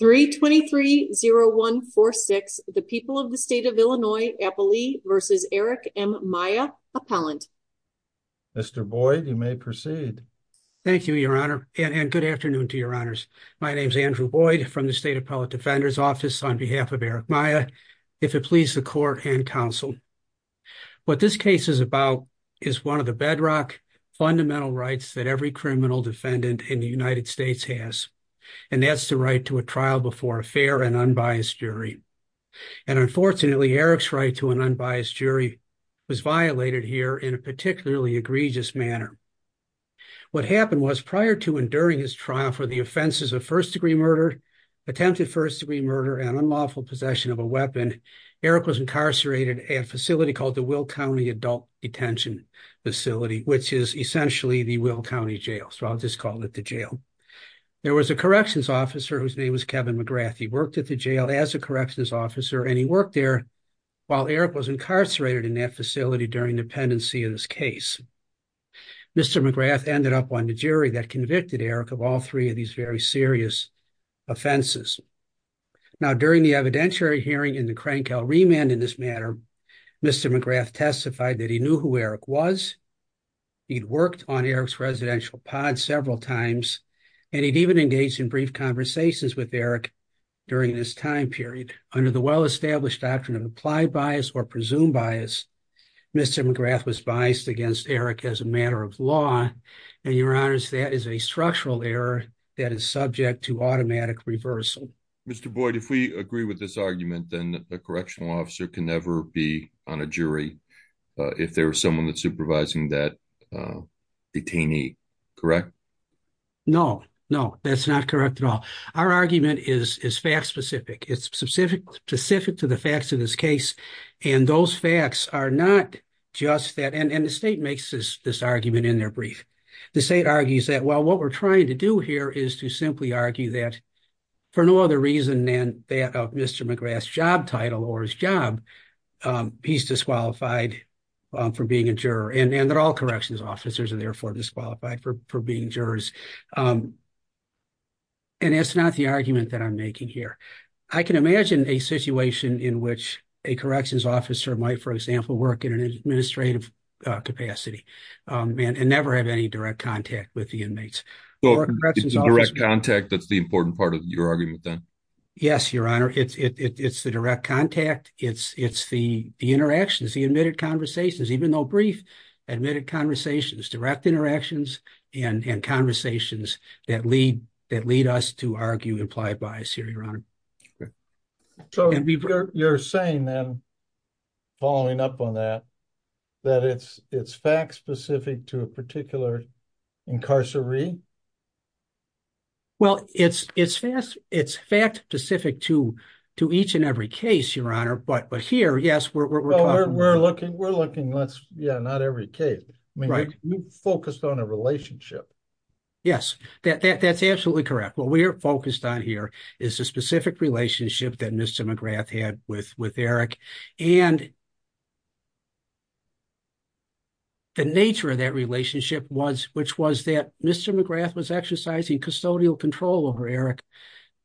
3230146, the people of the state of Illinois, Eppley v. Eric M. Maya, Appellant. Mr. Boyd, you may proceed. Thank you, Your Honor, and good afternoon to Your Honors. My name is Andrew Boyd from the State Appellate Defender's Office on behalf of Eric Maya, if it please the Court and Counsel. What this case is about is one of the bedrock, fundamental rights that every criminal defendant in the United States has, and that's the right to a trial before a fair and unbiased jury. And unfortunately, Eric's right to an unbiased jury was violated here in a particularly egregious manner. What happened was, prior to and during his trial for the offenses of first-degree murder, attempted first-degree murder, and unlawful possession of a weapon, Eric was incarcerated at a facility called the Will County Adult Detention Facility, which is essentially the jail. There was a corrections officer whose name was Kevin McGrath. He worked at the jail as a corrections officer, and he worked there while Eric was incarcerated in that facility during the pendency of this case. Mr. McGrath ended up on the jury that convicted Eric of all three of these very serious offenses. Now, during the evidentiary hearing in the Crankville remand in this matter, Mr. McGrath testified that he knew who Eric was. He'd worked on Eric's residential pod several times, and he'd even engaged in brief conversations with Eric during this time period. Under the well-established doctrine of applied bias or presumed bias, Mr. McGrath was biased against Eric as a matter of law, and your honors, that is a structural error that is subject to automatic reversal. Mr. Boyd, if we agree with this argument, then a correctional officer can be on a jury if there was someone that's supervising that detainee, correct? No, no, that's not correct at all. Our argument is fact-specific. It's specific to the facts of this case, and those facts are not just that, and the state makes this argument in their brief. The state argues that, well, what we're trying to do here is to simply argue that, for no other reason than that of Mr. McGrath's job title or his job, he's disqualified from being a juror, and that all corrections officers are therefore disqualified for being jurors, and that's not the argument that I'm making here. I can imagine a situation in which a corrections officer might, for example, work in an administrative capacity and never have any argument with that. Yes, your honor. It's the direct contact. It's the interactions, the admitted conversations, even though brief admitted conversations, direct interactions and conversations that lead us to argue implied bias here, your honor. You're saying then, following up on that, that it's fact-specific to a particular incarceration? Well, it's fact-specific to each and every case, your honor, but here, yes, we're talking... We're looking, yeah, not every case. I mean, you focused on a relationship. Yes, that's absolutely correct. What we're focused on here is the specific relationship that Mr. McGrath had with Eric, and the nature of that relationship was, which was that Mr. McGrath was exercising custodial control over Eric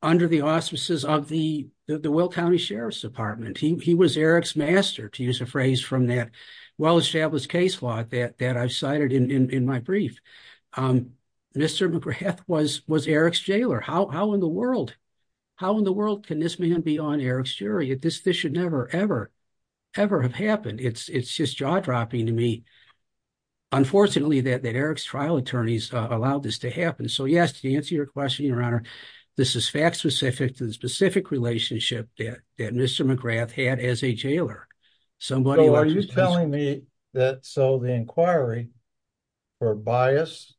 under the auspices of the Will County Sheriff's Department. He was Eric's master, to use a phrase from that well-established case law that I've cited in my brief. Mr. McGrath was Eric's jailer. How in the world can this man be on Eric's jury? This should never, ever have happened. It's just jaw-dropping to me, unfortunately, that Eric's trial attorneys allowed this to happen. So yes, to answer your question, your honor, this is fact-specific to the specific relationship that Mr. McGrath had as a jailer. Somebody... So are you telling me that so the inquiry for bias,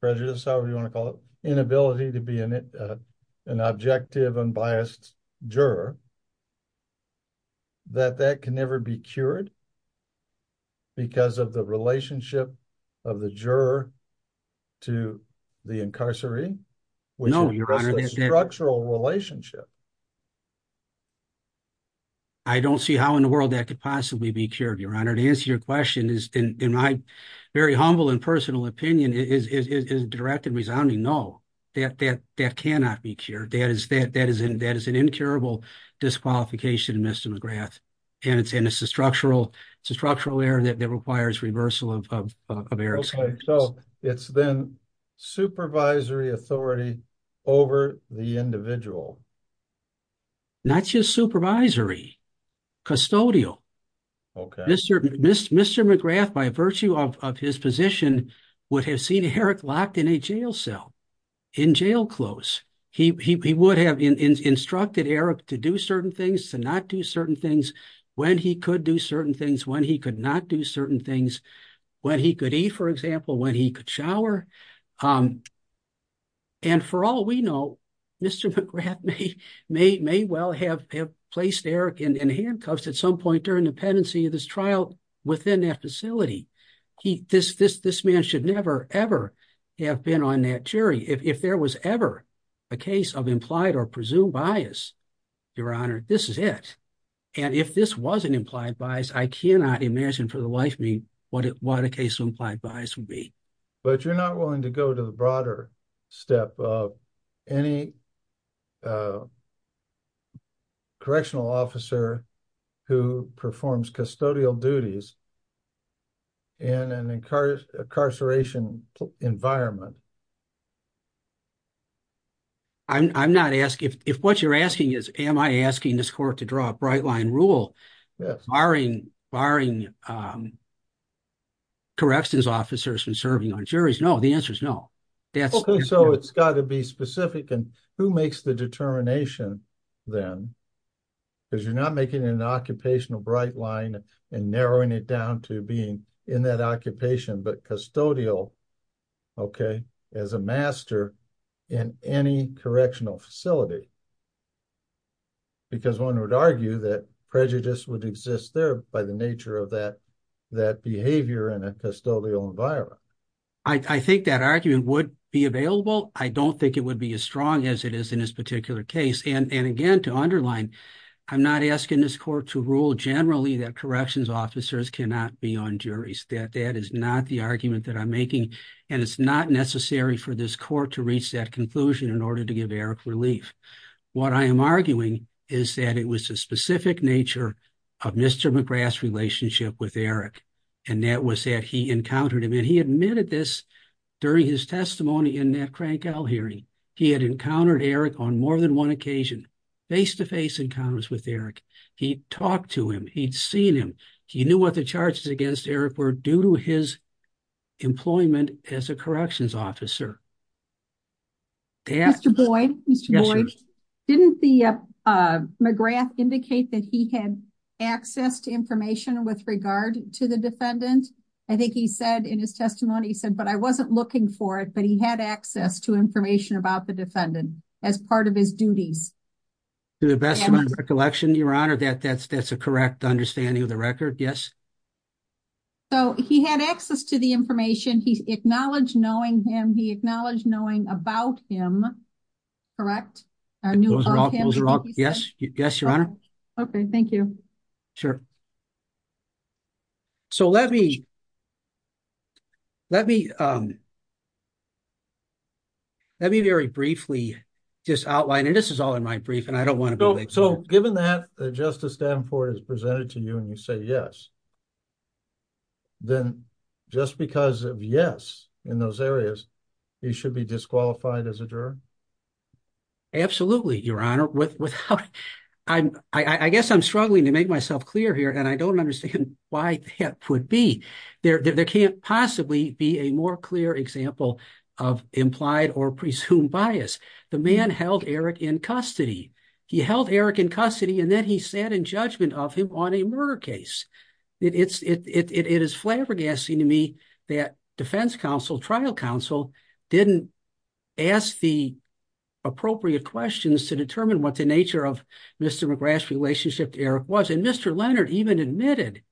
prejudice, however you want to call it, inability to be an objective, unbiased juror, that that can never be cured because of the relationship of the juror to the incarceree, which is a structural relationship? I don't see how in the world that could possibly be cured, your honor. To answer your question, in my very humble and personal opinion, it is a direct and resounding no. That cannot be cured. That is an incurable disqualification of Mr. McGrath, and it's a structural error that requires reversal of Eric's case. So it's then supervisory authority over the individual. Not just supervisory. Custodial. Mr. McGrath, by virtue of his position, would have seen Eric locked in a jail cell, in jail clothes. He would have instructed Eric to do certain things, to not do certain things, when he could do certain things, when he could not do certain things, when he could eat, for example, when he could shower. And for all we know, Mr. McGrath may well have placed Eric in handcuffs at some point during the pendency of this trial within that facility. This man should never, ever have been on that jury. If there was ever a case of implied or presumed bias, your honor, this is it. And if this was an implied bias, I cannot imagine for the life of me what a case of implied bias would be. But you're not willing to go to the broader step of any correctional officer who performs custodial duties in an incarceration environment. I'm not asking, if what you're asking is, am I asking this court to draw a bright line rule barring corrections officers from serving on juries? No, the answer is no. So it's got to be specific, and who makes the determination then? Because you're not making an occupational bright line and narrowing it down to being in that occupation, but custodial, okay, as a master in any correctional facility. Because one would argue that prejudice would exist there by the nature of that behavior in a custodial environment. I think that argument would be available. I don't think it would be as strong as it is in this particular case. And again, to underline, I'm not asking this court to rule generally that corrections officers cannot be on and it's not necessary for this court to reach that conclusion in order to give Eric relief. What I am arguing is that it was the specific nature of Mr. McGrath's relationship with Eric, and that was that he encountered him. And he admitted this during his testimony in that Crank Isle hearing. He had encountered Eric on more than one occasion, face-to-face encounters with Eric. He talked to him. He'd seen him. He knew what the charges against Eric were due to his employment as a corrections officer. Mr. Boyd, didn't McGrath indicate that he had access to information with regard to the defendant? I think he said in his testimony, he said, but I wasn't looking for it, but he had access to information about the defendant as part of his duties. To the best of my recollection, Your Honor, that's a correct understanding of the record, yes. So, he had access to the information. He's acknowledged knowing him. He acknowledged knowing about him, correct? Those are all, yes. Yes, Your Honor. Okay, thank you. Sure. So, let me very briefly just outline, and this is all in my brief, and I don't want to be late. So, given that Justice Danforth has presented to you and you say yes, then just because of yes in those areas, he should be disqualified as a juror? Absolutely, Your Honor. I guess I'm struggling to make myself clear here, and I don't understand why that would be. There can't possibly be a more clear example of implied or presumed bias. The man held Eric in custody. He held Eric in custody, and then he sat in judgment of him on a murder case. It is flabbergasting to me that defense counsel, trial counsel, didn't ask the appropriate questions to determine what the nature of Mr. McGrath's relationship to Eric was, and Mr. Leonard even admitted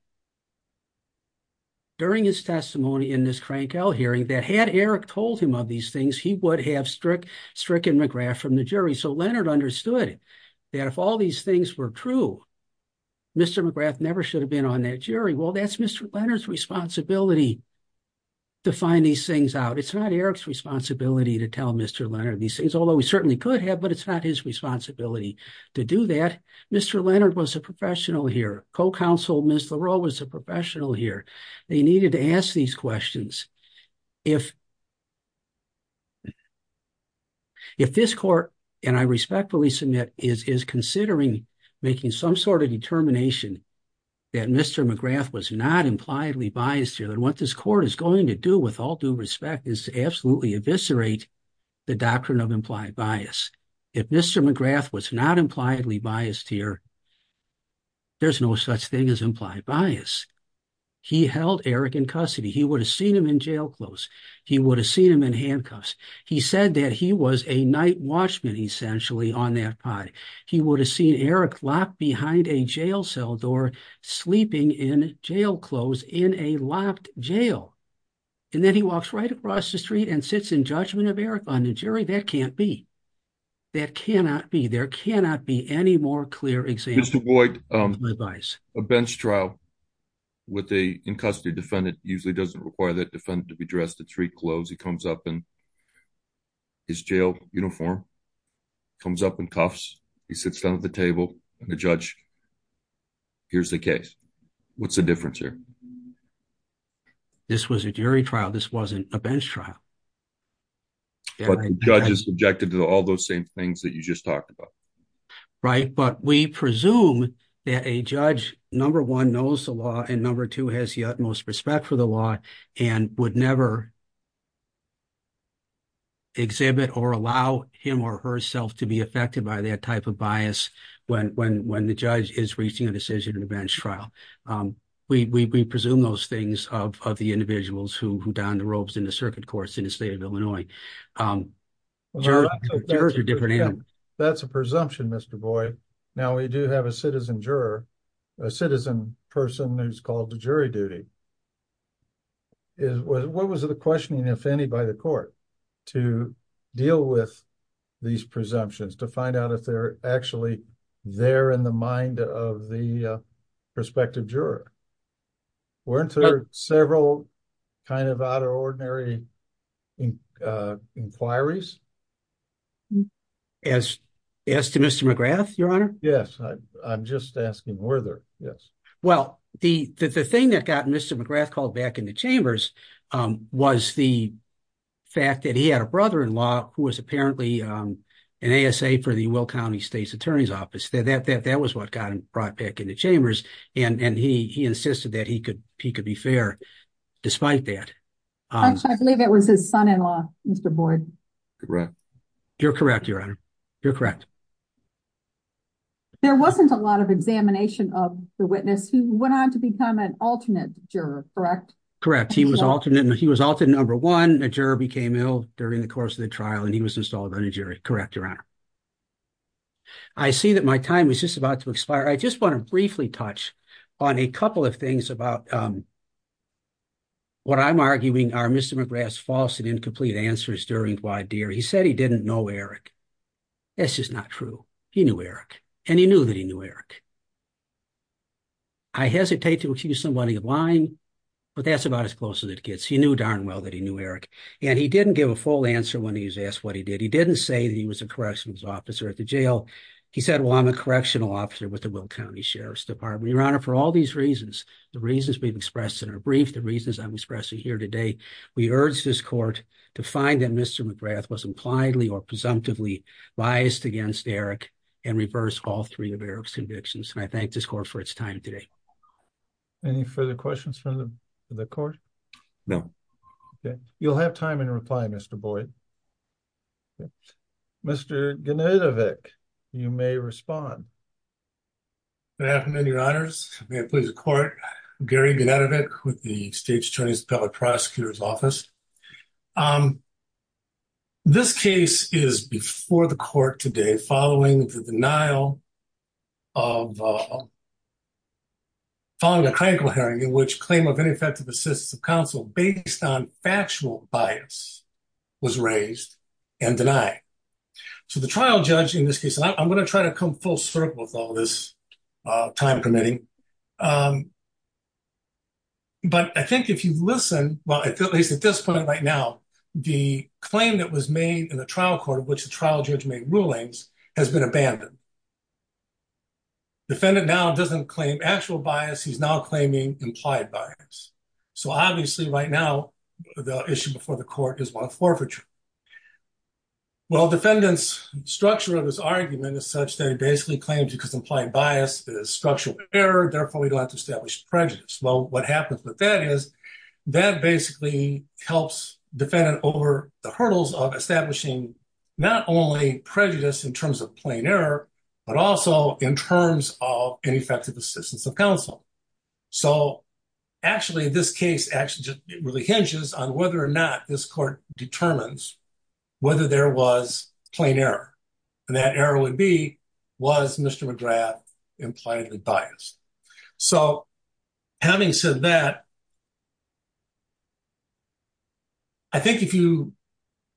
during his testimony in this crankout hearing that had Eric told him of these things, he would have stricken McGrath from the jury. So, Leonard understood that if all these things were true, Mr. McGrath never should have been on that jury. Well, that's Mr. Leonard's responsibility to find these things out. It's not Eric's responsibility to tell Mr. Leonard these things, although he certainly could have, but it's not his responsibility to do that. Mr. Leonard was a professional here. Co-counsel Ms. Leroux was a professional here. They needed to ask these questions. If this court, and I respectfully submit, is considering making some sort of determination that Mr. McGrath was not impliedly biased here, then what this court is going to do with all due respect is to absolutely eviscerate the doctrine of implied bias. If Mr. McGrath was not impliedly biased here, there's no such thing as implied bias. He held Eric in custody. He would have seen him in jail clothes. He would have seen him in handcuffs. He said that he was a night watchman, essentially, on that pod. He would have seen Eric locked behind a jail cell door, sleeping in jail clothes, in a locked jail. And then he walks right across the street and sits in judgment of Eric on the jury. That can't be. That cannot be. There cannot be any more clear example of implied bias. A bench trial with an in-custody defendant usually doesn't require that defendant to be dressed in three clothes. He comes up in his jail uniform, comes up in cuffs, he sits down at the table, and the judge hears the case. What's the difference here? This was a jury trial. This wasn't a bench trial. But the judge is subjected to all those same things that you just talked about. Right? But we presume that a judge, number one, knows the law, and number two, has the utmost respect for the law, and would never exhibit or allow him or herself to be affected by that type of bias when the judge is reaching a decision in a bench trial. We presume those things of the individuals who don the robes in the circuit courts in the state of Illinois. Well, that's a presumption, Mr. Boyd. Now we do have a citizen juror, a citizen person who's called to jury duty. What was the questioning, if any, by the court to deal with these presumptions, to find out if they're actually there in the mind of the prospective juror? Weren't there several kind of out of ordinary inquiries? As to Mr. McGrath, Your Honor? Yes. I'm just asking whether, yes. Well, the thing that got Mr. McGrath called back into chambers was the fact that he had a brother-in-law who was apparently an ASA for the Will County State's Attorney's Office. That was what got him brought back into chambers, and he insisted that he could be fair despite that. Actually, I believe it was his son-in-law, Mr. Boyd. Correct. You're correct, Your Honor. You're correct. There wasn't a lot of examination of the witness who went on to become an alternate juror, correct? Correct. He was alternate number one. The juror became ill during the course of the trial, and he was installed on a jury. Correct, Your Honor. I see that my time is just about to expire. I just want to briefly touch on a couple of things about what I'm arguing are Mr. McGrath's false and incomplete answers during wide deer. He said he didn't know Eric. That's just not true. He knew Eric, and he knew that he knew Eric. I hesitate to accuse somebody of lying, but that's about as close as it gets. He knew darn well that he knew Eric, and he didn't give a full answer when he was asked what he did. He didn't say that he was a corrections officer at the jail. He said, well, I'm a lawyer. For all these reasons, the reasons we've expressed in our brief, the reasons I'm expressing here today, we urge this court to find that Mr. McGrath was impliedly or presumptively biased against Eric, and reverse all three of Eric's convictions, and I thank this court for its time today. Any further questions from the court? No. Okay. You'll have time in reply, Mr. Boyd. Mr. Jenidovic, you may respond. Good afternoon, Your Honors. May it please the court, I'm Gary Jenidovic with the State's Attorney's Public Prosecutor's Office. This case is before the court today following the denial of, following a clinical hearing in which claim of ineffective assistance of counsel based on factual bias was raised and denied. So the trial judge in this case, and I'm going to try to come full circle with all this time committing, but I think if you listen, well at least at this point right now, the claim that was made in the trial court of which the trial judge made rulings has been abandoned. Defendant now doesn't claim actual bias, he's now claiming implied bias. So obviously right now, the issue before the court is one of forfeiture. Well, defendant's structure of his argument is such that he basically claims because implied bias is structural error, therefore we don't have to establish prejudice. Well, what happens with that is that basically helps defendant over the hurdles of establishing not only prejudice in terms of plain error, but also in terms of ineffective assistance of counsel. So actually, this case actually just really hinges on whether or not this court determines whether there was plain error. And that error would be, was Mr. McGrath impliedly biased? So having said that, I think if you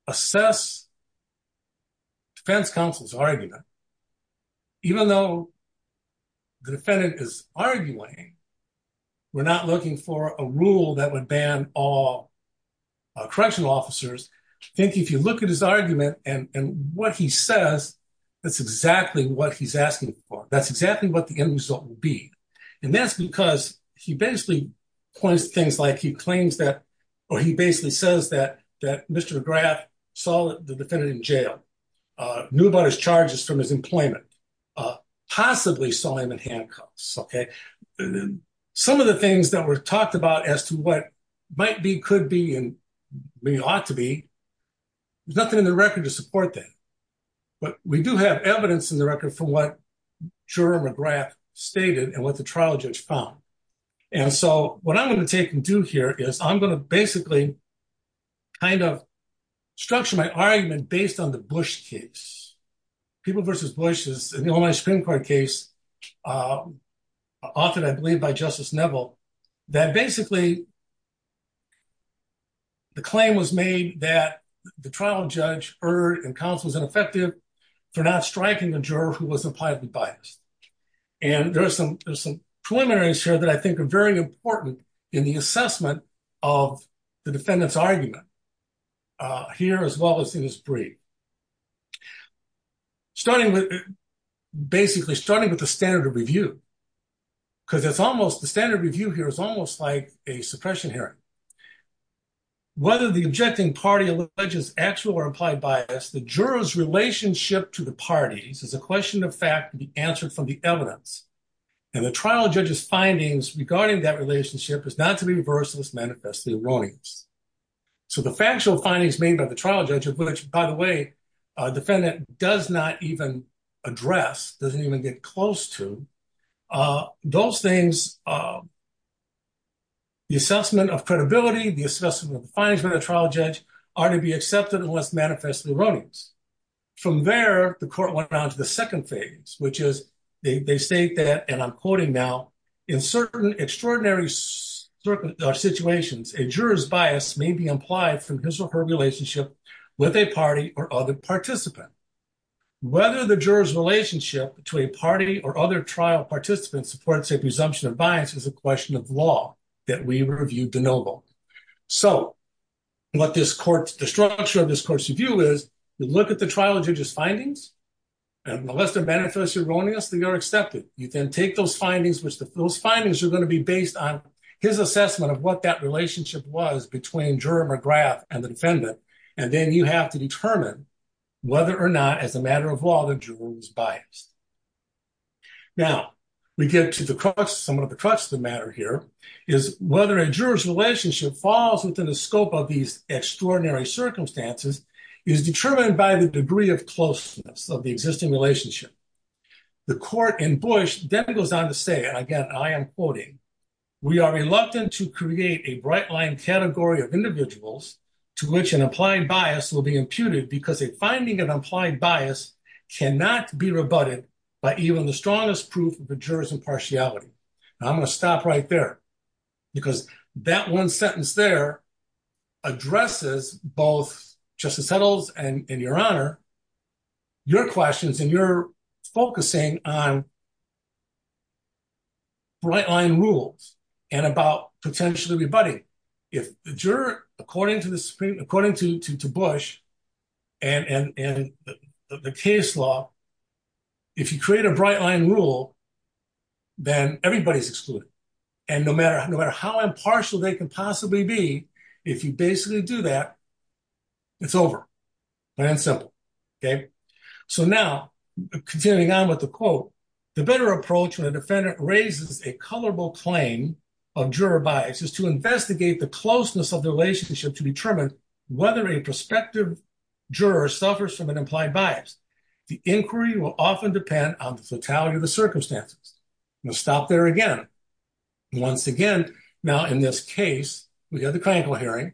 assess defense counsel's argument, even though the defendant is arguing, we're not looking for a rule that would ban all correctional officers. I think if you look at his argument and what he says, that's exactly what he's asking for. That's exactly what the end result will be. And that's because he basically points to things like he claims that, or he basically says that Mr. McGrath saw the defendant in jail, knew about his charges from his employment, possibly saw him in handcuffs. Some of the things that were talked about as to what might be, could be, and ought to be, there's nothing in the record to support that. But we do have evidence in the record from what juror McGrath stated and what the trial judge found. And so what I'm going to take and do here is I'm going to basically kind of structure my Supreme Court case, often I believe by Justice Neville, that basically the claim was made that the trial judge, Erd and counsel was ineffective for not striking the juror who was impliedly biased. And there are some, there's some preliminaries here that I think are very important in the assessment of the defendant's argument here, as well as in his brief. Starting with, basically starting with the standard of review, because it's almost, the standard review here is almost like a suppression hearing. Whether the objecting party alleges actual or implied bias, the juror's relationship to the parties is a question of fact to be answered from the evidence. And the trial judge's findings regarding that relationship is not to be reversed unless manifestly erroneous. So the factual findings made by the trial judge, which by the way, defendant does not even address, doesn't even get close to, those things, the assessment of credibility, the assessment of the findings by the trial judge are to be accepted unless manifestly erroneous. From there, the court went around to the second phase, which is they state that, and I'm quoting now, in certain relationships with a party or other participant. Whether the juror's relationship to a party or other trial participant supports a presumption of bias is a question of law that we reviewed de noble. So what this court, the structure of this court's review is, you look at the trial judge's findings, and unless they're manifestly erroneous, they are accepted. You then take those findings, which those findings are going to be based on his assessment of what that relationship was between juror McGrath and the defendant. And then you have to determine whether or not, as a matter of law, the juror was biased. Now, we get to the crux, some of the crux of the matter here, is whether a juror's relationship falls within the scope of these extraordinary circumstances is determined by the degree of closeness of the existing relationship. The court in Bush then goes on to say, and again, I am quoting, we are reluctant to create a bright line category of individuals to which an applied bias will be imputed because a finding of implied bias cannot be rebutted by even the strongest proof of the juror's impartiality. Now, I'm going to stop right there because that one sentence there addresses both Justice Settle's and your honor, your questions and your focusing on bright line rules and about potentially rebutting. If the juror, according to Bush and the case law, if you create a bright line rule, then everybody's excluded. And no matter how impartial they can possibly be, if you basically do that, it's over, plain and simple. So now, continuing on with the quote, the better approach when a defendant raises a colorable claim of juror bias is to investigate the closeness of the relationship to determine whether a prospective juror suffers from an implied bias. The inquiry will often depend on the fatality of the circumstances. I'm going to stop there again. Once again, now in this case, we had the clinical hearing,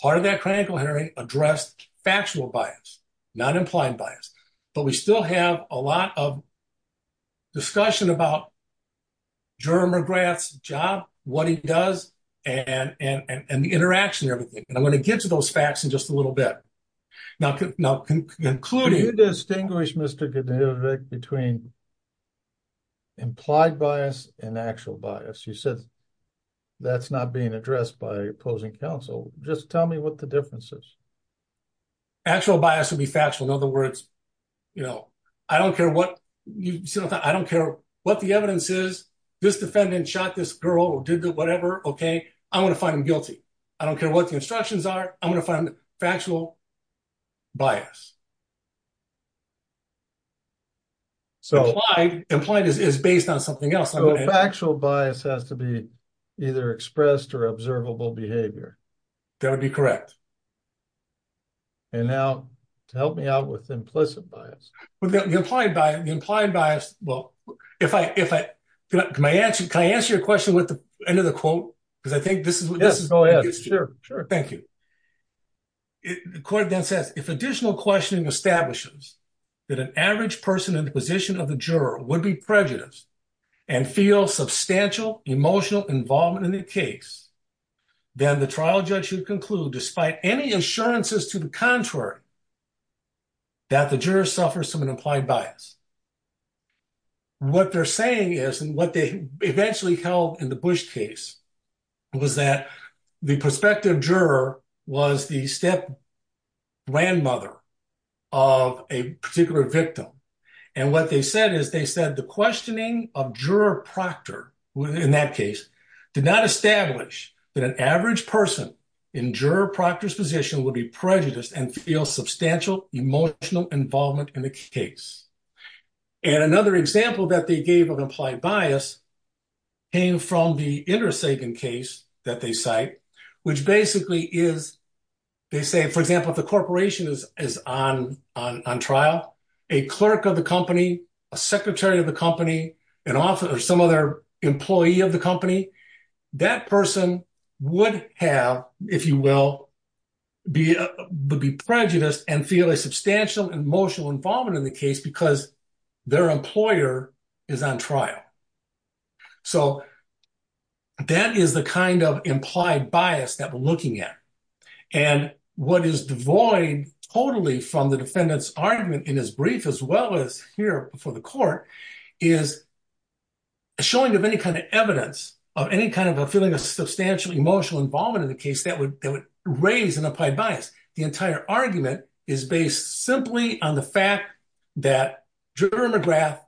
part of that clinical hearing addressed factual bias, not implied bias, but we still have a lot of discussion about juror McGrath's job, what he does, and the interaction and everything. And I'm going to get to those facts in just a little bit. Now, concluding... Can you distinguish, Mr. Godevich, between implied bias and actual bias? You said that's not being addressed by opposing counsel. Just tell me what the difference is. Actual bias would be factual. In other words, you know, I don't care what you said. I don't care what the evidence is. This defendant shot this girl or did whatever, okay? I want to find him guilty. I don't care what the instructions are. I'm going to find factual bias. Implied is based on something else. Factual bias has to be either expressed or observable behavior. That would be correct. And now, help me out with implicit bias. With the implied bias, well, if I... Can I answer your question with the end of the quote? Because I think this is... Yes, go ahead. Sure, sure. Thank you. The court then says, if additional questioning establishes that an average person in the position of the juror would be prejudiced and feel substantial emotional involvement in the case, then the trial judge should conclude, despite any assurances to the contrary, that the juror suffers from an implied bias. What they're saying is, and what they eventually held in the Bush case, was that the prospective juror was the step grandmother of a particular victim. And what they said is, they said the questioning of juror Proctor in that case did not establish that an average person in juror Proctor's position would be prejudiced and feel substantial emotional involvement in the case. And another example that they gave of implied bias came from the Indra Sagan case that they cite, which basically is, they say, for example, if the corporation is on trial, a clerk of the company, a secretary of the company, an officer or some other employee of the company, that person would have, if you will, be prejudiced and feel a substantial emotional involvement in the case because their employer is on trial. So that is the kind of implied bias that we're looking at. And what is devoid totally from the defendant's argument in his brief, as well as here before the court, is a showing of any kind of evidence of any kind of a feeling of substantial emotional involvement in the case that would raise an implied bias. The entire argument is based simply on the fact that juror McGrath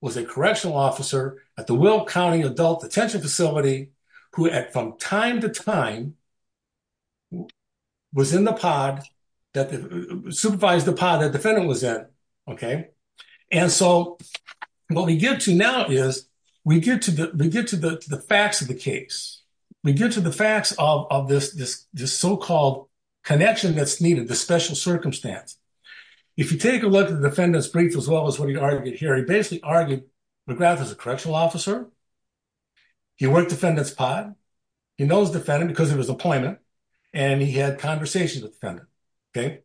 was a correctional officer at the Will County Adult Detention Facility who, from time to time, was in the pod, supervised the pod the defendant was in, okay? And so what we get to now is, we get to the facts of the case. We get to the facts of this so-called connection that's needed, the special circumstance. If you take a look at the defendant's brief, as well as what he argued here, he basically argued McGrath is a correctional officer, he worked the defendant's pod, he knows the defendant because of his employment, and he had conversations with the defendant, okay?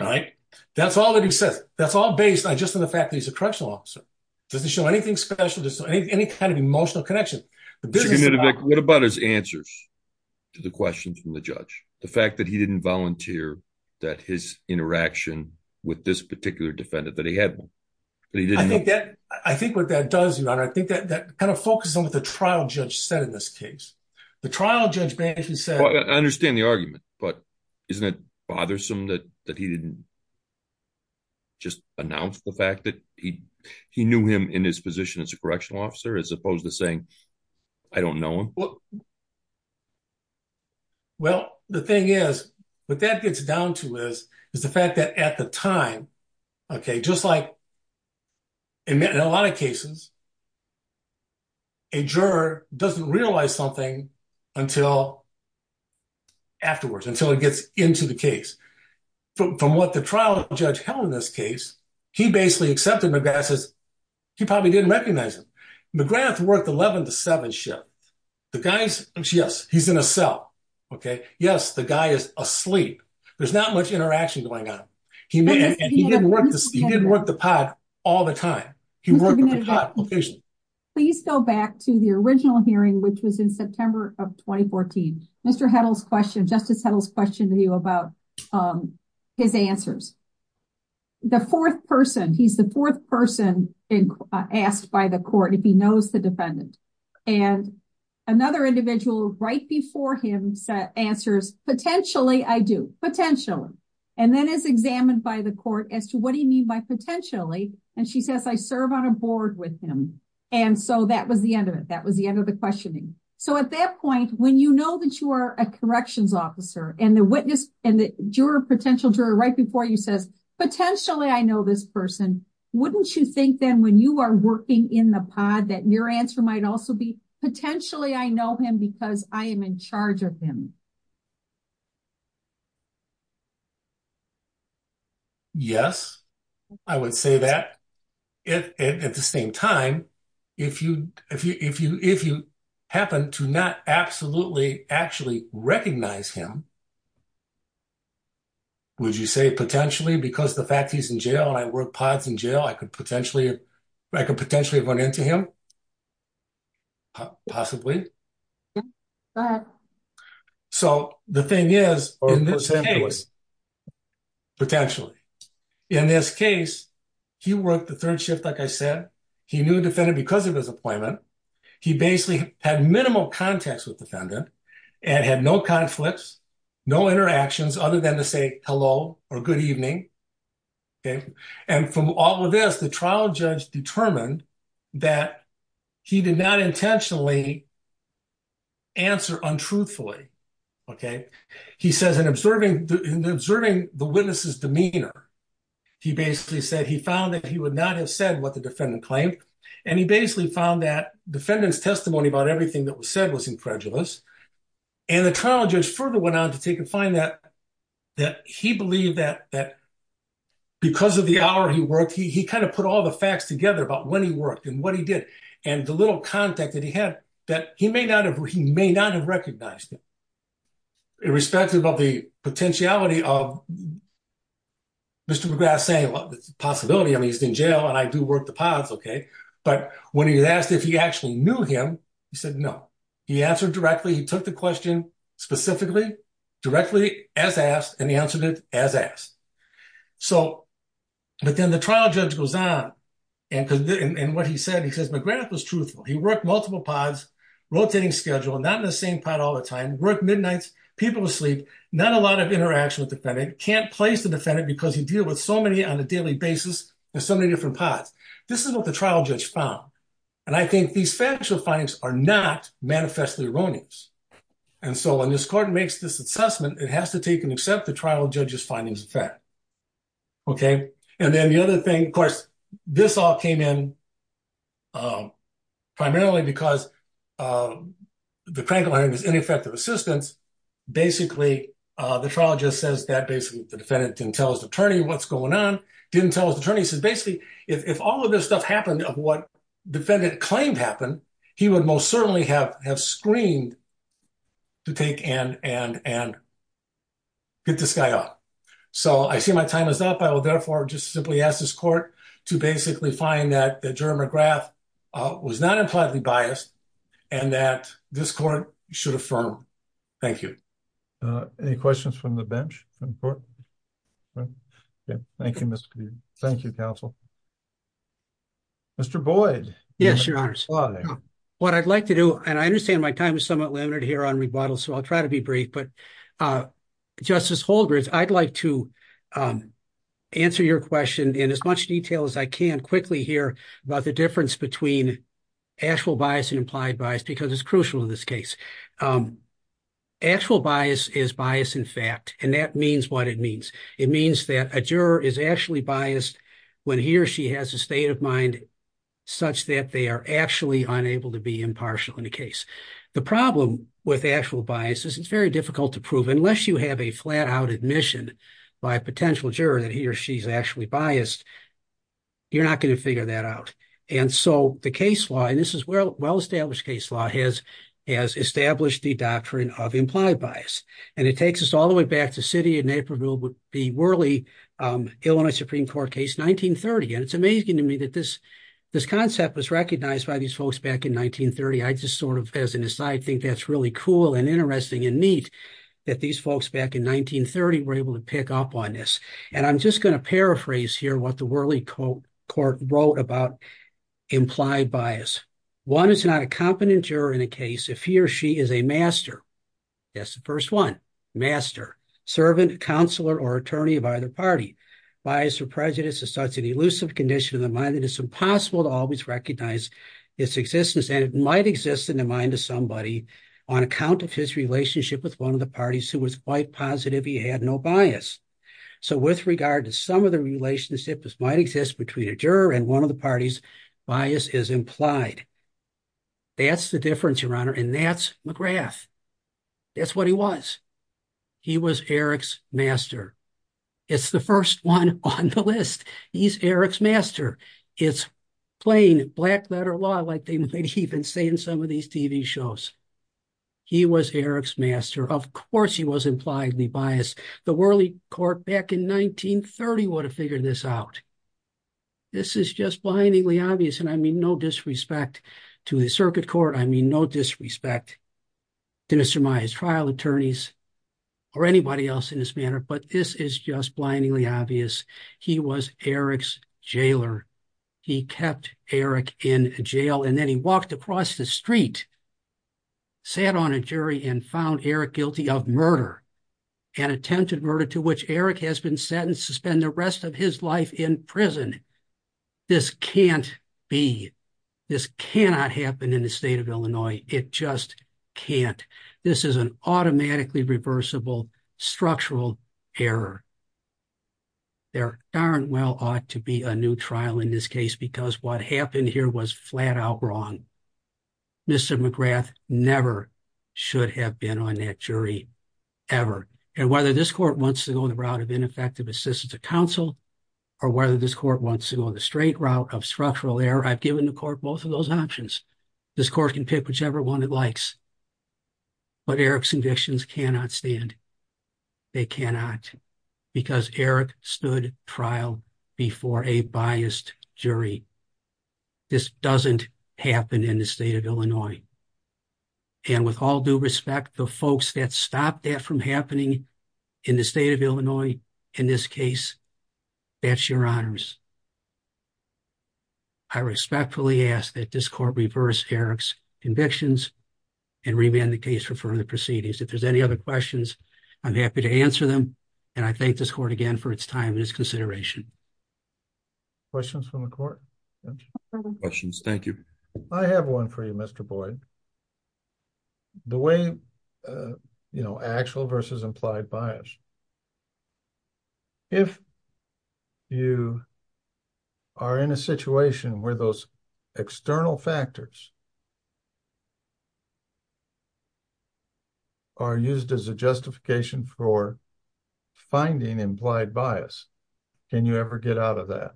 All right? That's all that he says. That's all based just on the fact that he's a correctional officer. It doesn't show anything special, any kind of emotional connection. What about his answers to the questions from the judge? The fact that he didn't volunteer, that his interaction with this particular defendant, that he had one? I think what that does, Your Honor, I think that kind of focuses on what the trial judge said in this case. The trial judge basically said- I understand the argument, but isn't it bothersome that he didn't just announce the fact that he knew him in his brief? Well, the thing is, what that gets down to is, is the fact that at the time, okay, just like in a lot of cases, a juror doesn't realize something until afterwards, until it gets into the case. From what the trial judge held in this case, he basically accepted he probably didn't recognize him. McGrath worked 11 to 7 shifts. The guy's- yes, he's in a cell, okay? Yes, the guy is asleep. There's not much interaction going on. He didn't work the pod all the time. He worked the pod occasionally. Please go back to the original hearing, which was in September of 2014. Justice Heddle's question to you about his answers. The fourth person, he's the fourth person asked by the court if he knows the defendant. Another individual right before him answers, potentially, I do. Potentially. Then is examined by the court as to what do you mean by potentially? She says, I serve on a board with him. That was the end of it. That was the end of the questioning. At that point, when you know that you are a corrections officer and the witness and the potential juror right before you says, potentially, I know this person, wouldn't you think then when you are working in the pod that your answer might also be, potentially, I know him because I am in charge of him? Yes, I would say that. At the same time, if you happen to not absolutely actually recognize him, would you say, potentially, because the fact he is in jail and I work pods in jail, I could potentially have run into him? Possibly? Go ahead. So the thing is, in this case, potentially. In this case, he worked the third shift, like I said. He knew the defendant because of his appointment. He basically had minimal contacts with defendant and had no conflicts, no interactions other than to say hello or good evening. And from all of this, the trial judge determined that he did not intentionally answer untruthfully. He says in observing the witness's demeanor, he basically said he found that he would not have said what the defendant claimed. And he basically found that defendant's testimony about everything that was said was incredulous. And the trial judge further went on to take and find that he believed that because of the hour he worked, he kind of put all the facts together about when he worked and what he did. And the little contact that he had, that he may not have recognized him. Irrespective of the potentiality of Mr. McGrath saying, well, it's a possibility, I mean, he's in jail and I do work the pods, okay. But when he was asked if he actually knew him, he said no. He answered directly. He took the question specifically, directly as asked, and he answered it as asked. But then the trial judge goes on. And what he said, he says McGrath was truthful. He worked multiple pods, rotating schedule, not in the same pod all the time, worked midnights, people asleep, not a lot of interaction with defendant, can't place the basis in so many different pods. This is what the trial judge found. And I think these factual findings are not manifestly erroneous. And so when this court makes this assessment, it has to take and accept the trial judge's findings of fact. Okay. And then the other thing, of course, this all came in primarily because the crank behind is ineffective assistance. Basically, the trial just says that basically the defendant didn't tell his attorney what's going on, didn't tell his attorney. He says basically, if all of this stuff happened of what defendant claimed happened, he would most certainly have screened to take and get this guy up. So I see my time is up. I will therefore just simply ask this court to basically find that Jerry McGrath was not impliedly biased and that this court should affirm. Thank you. Any questions from the bench? Thank you, counsel. Mr. Boyd. Yes, your honors. What I'd like to do, and I understand my time is somewhat limited here on rebuttal, so I'll try to be brief, but Justice Holdridge, I'd like to answer your question in as much detail as I can quickly here about the difference between actual bias and implied bias, because it's crucial in this case. Actual bias is bias in fact, and that means what it means. It means that a juror is actually biased when he or she has a state of mind such that they are actually unable to be impartial in the case. The problem with actual bias is it's very difficult to prove. Unless you have a flat-out admission by a potential juror that he or she's actually biased, you're not going to figure that out. And so the case law, and this is well-established case law, has established the doctrine of implied bias. And it takes us all the way back to the city of Naperville would be Whirley Illinois Supreme Court case 1930. And it's amazing to me that this concept was recognized by these folks back in 1930. I just sort of, as an aside, think that's really cool and interesting and neat that these folks back in 1930 were able to pick up on this. And I'm just going to paraphrase here what the Whirley court wrote about implied bias. One is not a competent juror in a case if he or she is a master. That's the first one. Master. Servant, counselor, or attorney of either party. Bias or prejudice is such an elusive condition of the mind that it's impossible to always recognize its existence. And it might exist in the mind of somebody on account of his relationship with one of the parties who was quite positive he had no bias. So with regard to some of the relationships might exist between a juror and one of the parties, bias is implied. That's the difference, your honor. And that's McGrath. That's what he was. He was Eric's master. It's the first one on the list. He's Eric's master. It's plain black letter law like they might even say in some of these TV shows. He was Eric's master. Of course he was impliedly biased. The Whirley court back in 1930 would have figured this out. This is just blindingly obvious and I mean no disrespect to the circuit court. I mean no disrespect to Mr. Maia's trial attorneys or anybody else in this manner. But this is just blindingly obvious. He was Eric's jailer. He kept Eric in jail and then he walked across the street, sat on a jury, and found Eric guilty of murder. An attempted murder to which Eric has been sentenced to spend the rest of his life in prison. This can't be. This cannot happen in the state of Illinois. It just can't. This is an automatically reversible structural error. There darn well ought to be a new trial in this case because what happened here was flat out wrong. Mr. McGrath never should have been on that jury ever. And whether this court wants to go the route of ineffective assistance of counsel or whether this court wants to go the straight route of structural error, I've given the court both of those options. This court can pick whichever one it likes. But Eric's convictions cannot stand. They cannot. Because Eric stood trial before a in the state of Illinois. And with all due respect, the folks that stopped that from happening in the state of Illinois in this case, that's your honors. I respectfully ask that this court reverse Eric's convictions and remand the case for further proceedings. If there's any other questions, I'm happy to answer them. And I thank this court again for its time and its consideration. Questions from the court? Questions. Thank you. I have one for you, Mr. Boyd. The way, you know, actual versus implied bias. If you are in a situation where those external factors are used as a justification for finding implied bias, can you ever get out of that?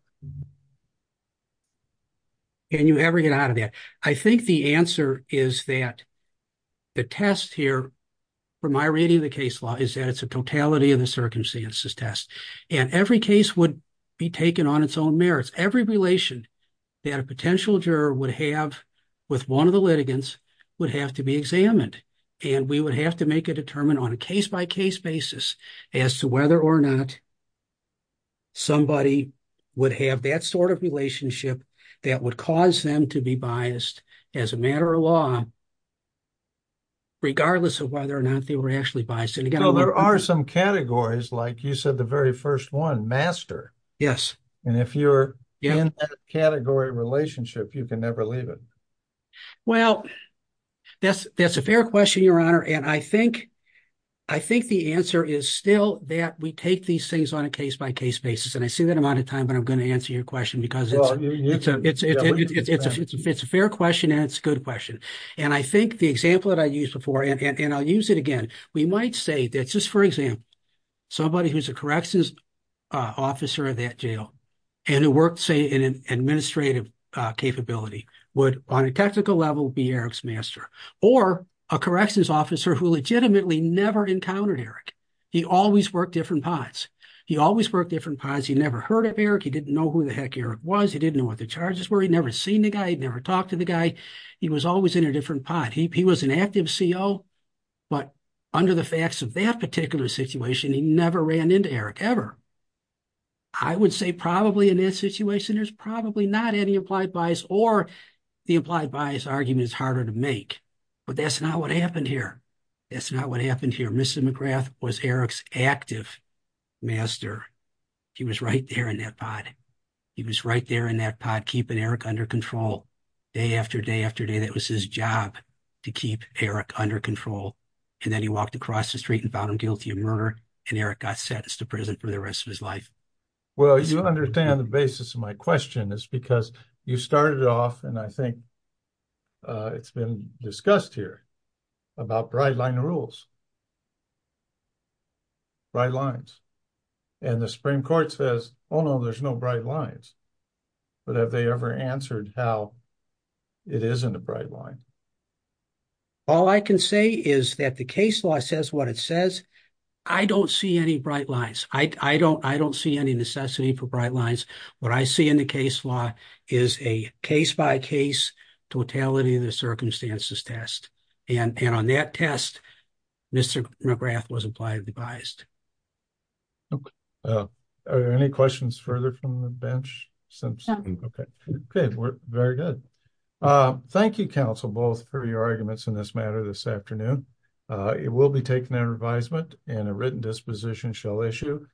Can you ever get out of that? I think the answer is that the test here, from my reading of the case law, is that it's a totality of the circumstances test. And every case would be taken on its own merits. Every relation that a potential juror would have with one of the litigants would have to be examined. And we would have to make a determine on a case by case basis as to whether or not somebody would have that sort of relationship that would cause them to be biased as a matter of law, regardless of whether or not they were actually biased. And again, there are some categories, like you said, the very first one, yes. And if you're in that category relationship, you can never leave it. Well, that's a fair question, Your Honor. And I think the answer is still that we take these things on a case by case basis. And I see that I'm out of time, but I'm going to answer your question because it's a fair question and it's a good question. And I think the example that I officer of that jail and who worked, say, in an administrative capability, would on a technical level be Eric's master or a corrections officer who legitimately never encountered Eric. He always worked different pods. He always worked different pods. He never heard of Eric. He didn't know who the heck Eric was. He didn't know what the charges were. He'd never seen the guy. He'd never talked to the guy. He was always in a different pod. He was an active CO, but under the facts of that particular situation, he never ran into Eric, ever. I would say probably in that situation, there's probably not any implied bias or the implied bias argument is harder to make, but that's not what happened here. That's not what happened here. Mr. McGrath was Eric's active master. He was right there in that pod. He was right there in that pod, keeping Eric under control. Day after day after day, that was his job to keep Eric under control. And then he walked across the street and found him guilty of murder, and Eric got sentenced to prison for the rest of his life. Well, you understand the basis of my question is because you started off, and I think it's been discussed here, about bright line rules. Bright lines. And the Supreme Court says, oh no, there's no bright lines. But have they ever answered how it isn't a bright line? All I can say is that the case law says what it says. I don't see any bright lines. I don't see any necessity for bright lines. What I see in the case law is a case-by-case, totality of the circumstances test. And on that test, Mr. McGrath was impliedly biased. Okay. Are there any questions further from the bench? Okay. Good. We're very good. Thank you, counsel, both for your arguments in this matter this afternoon. It will be taken under advisement and a written disposition shall issue.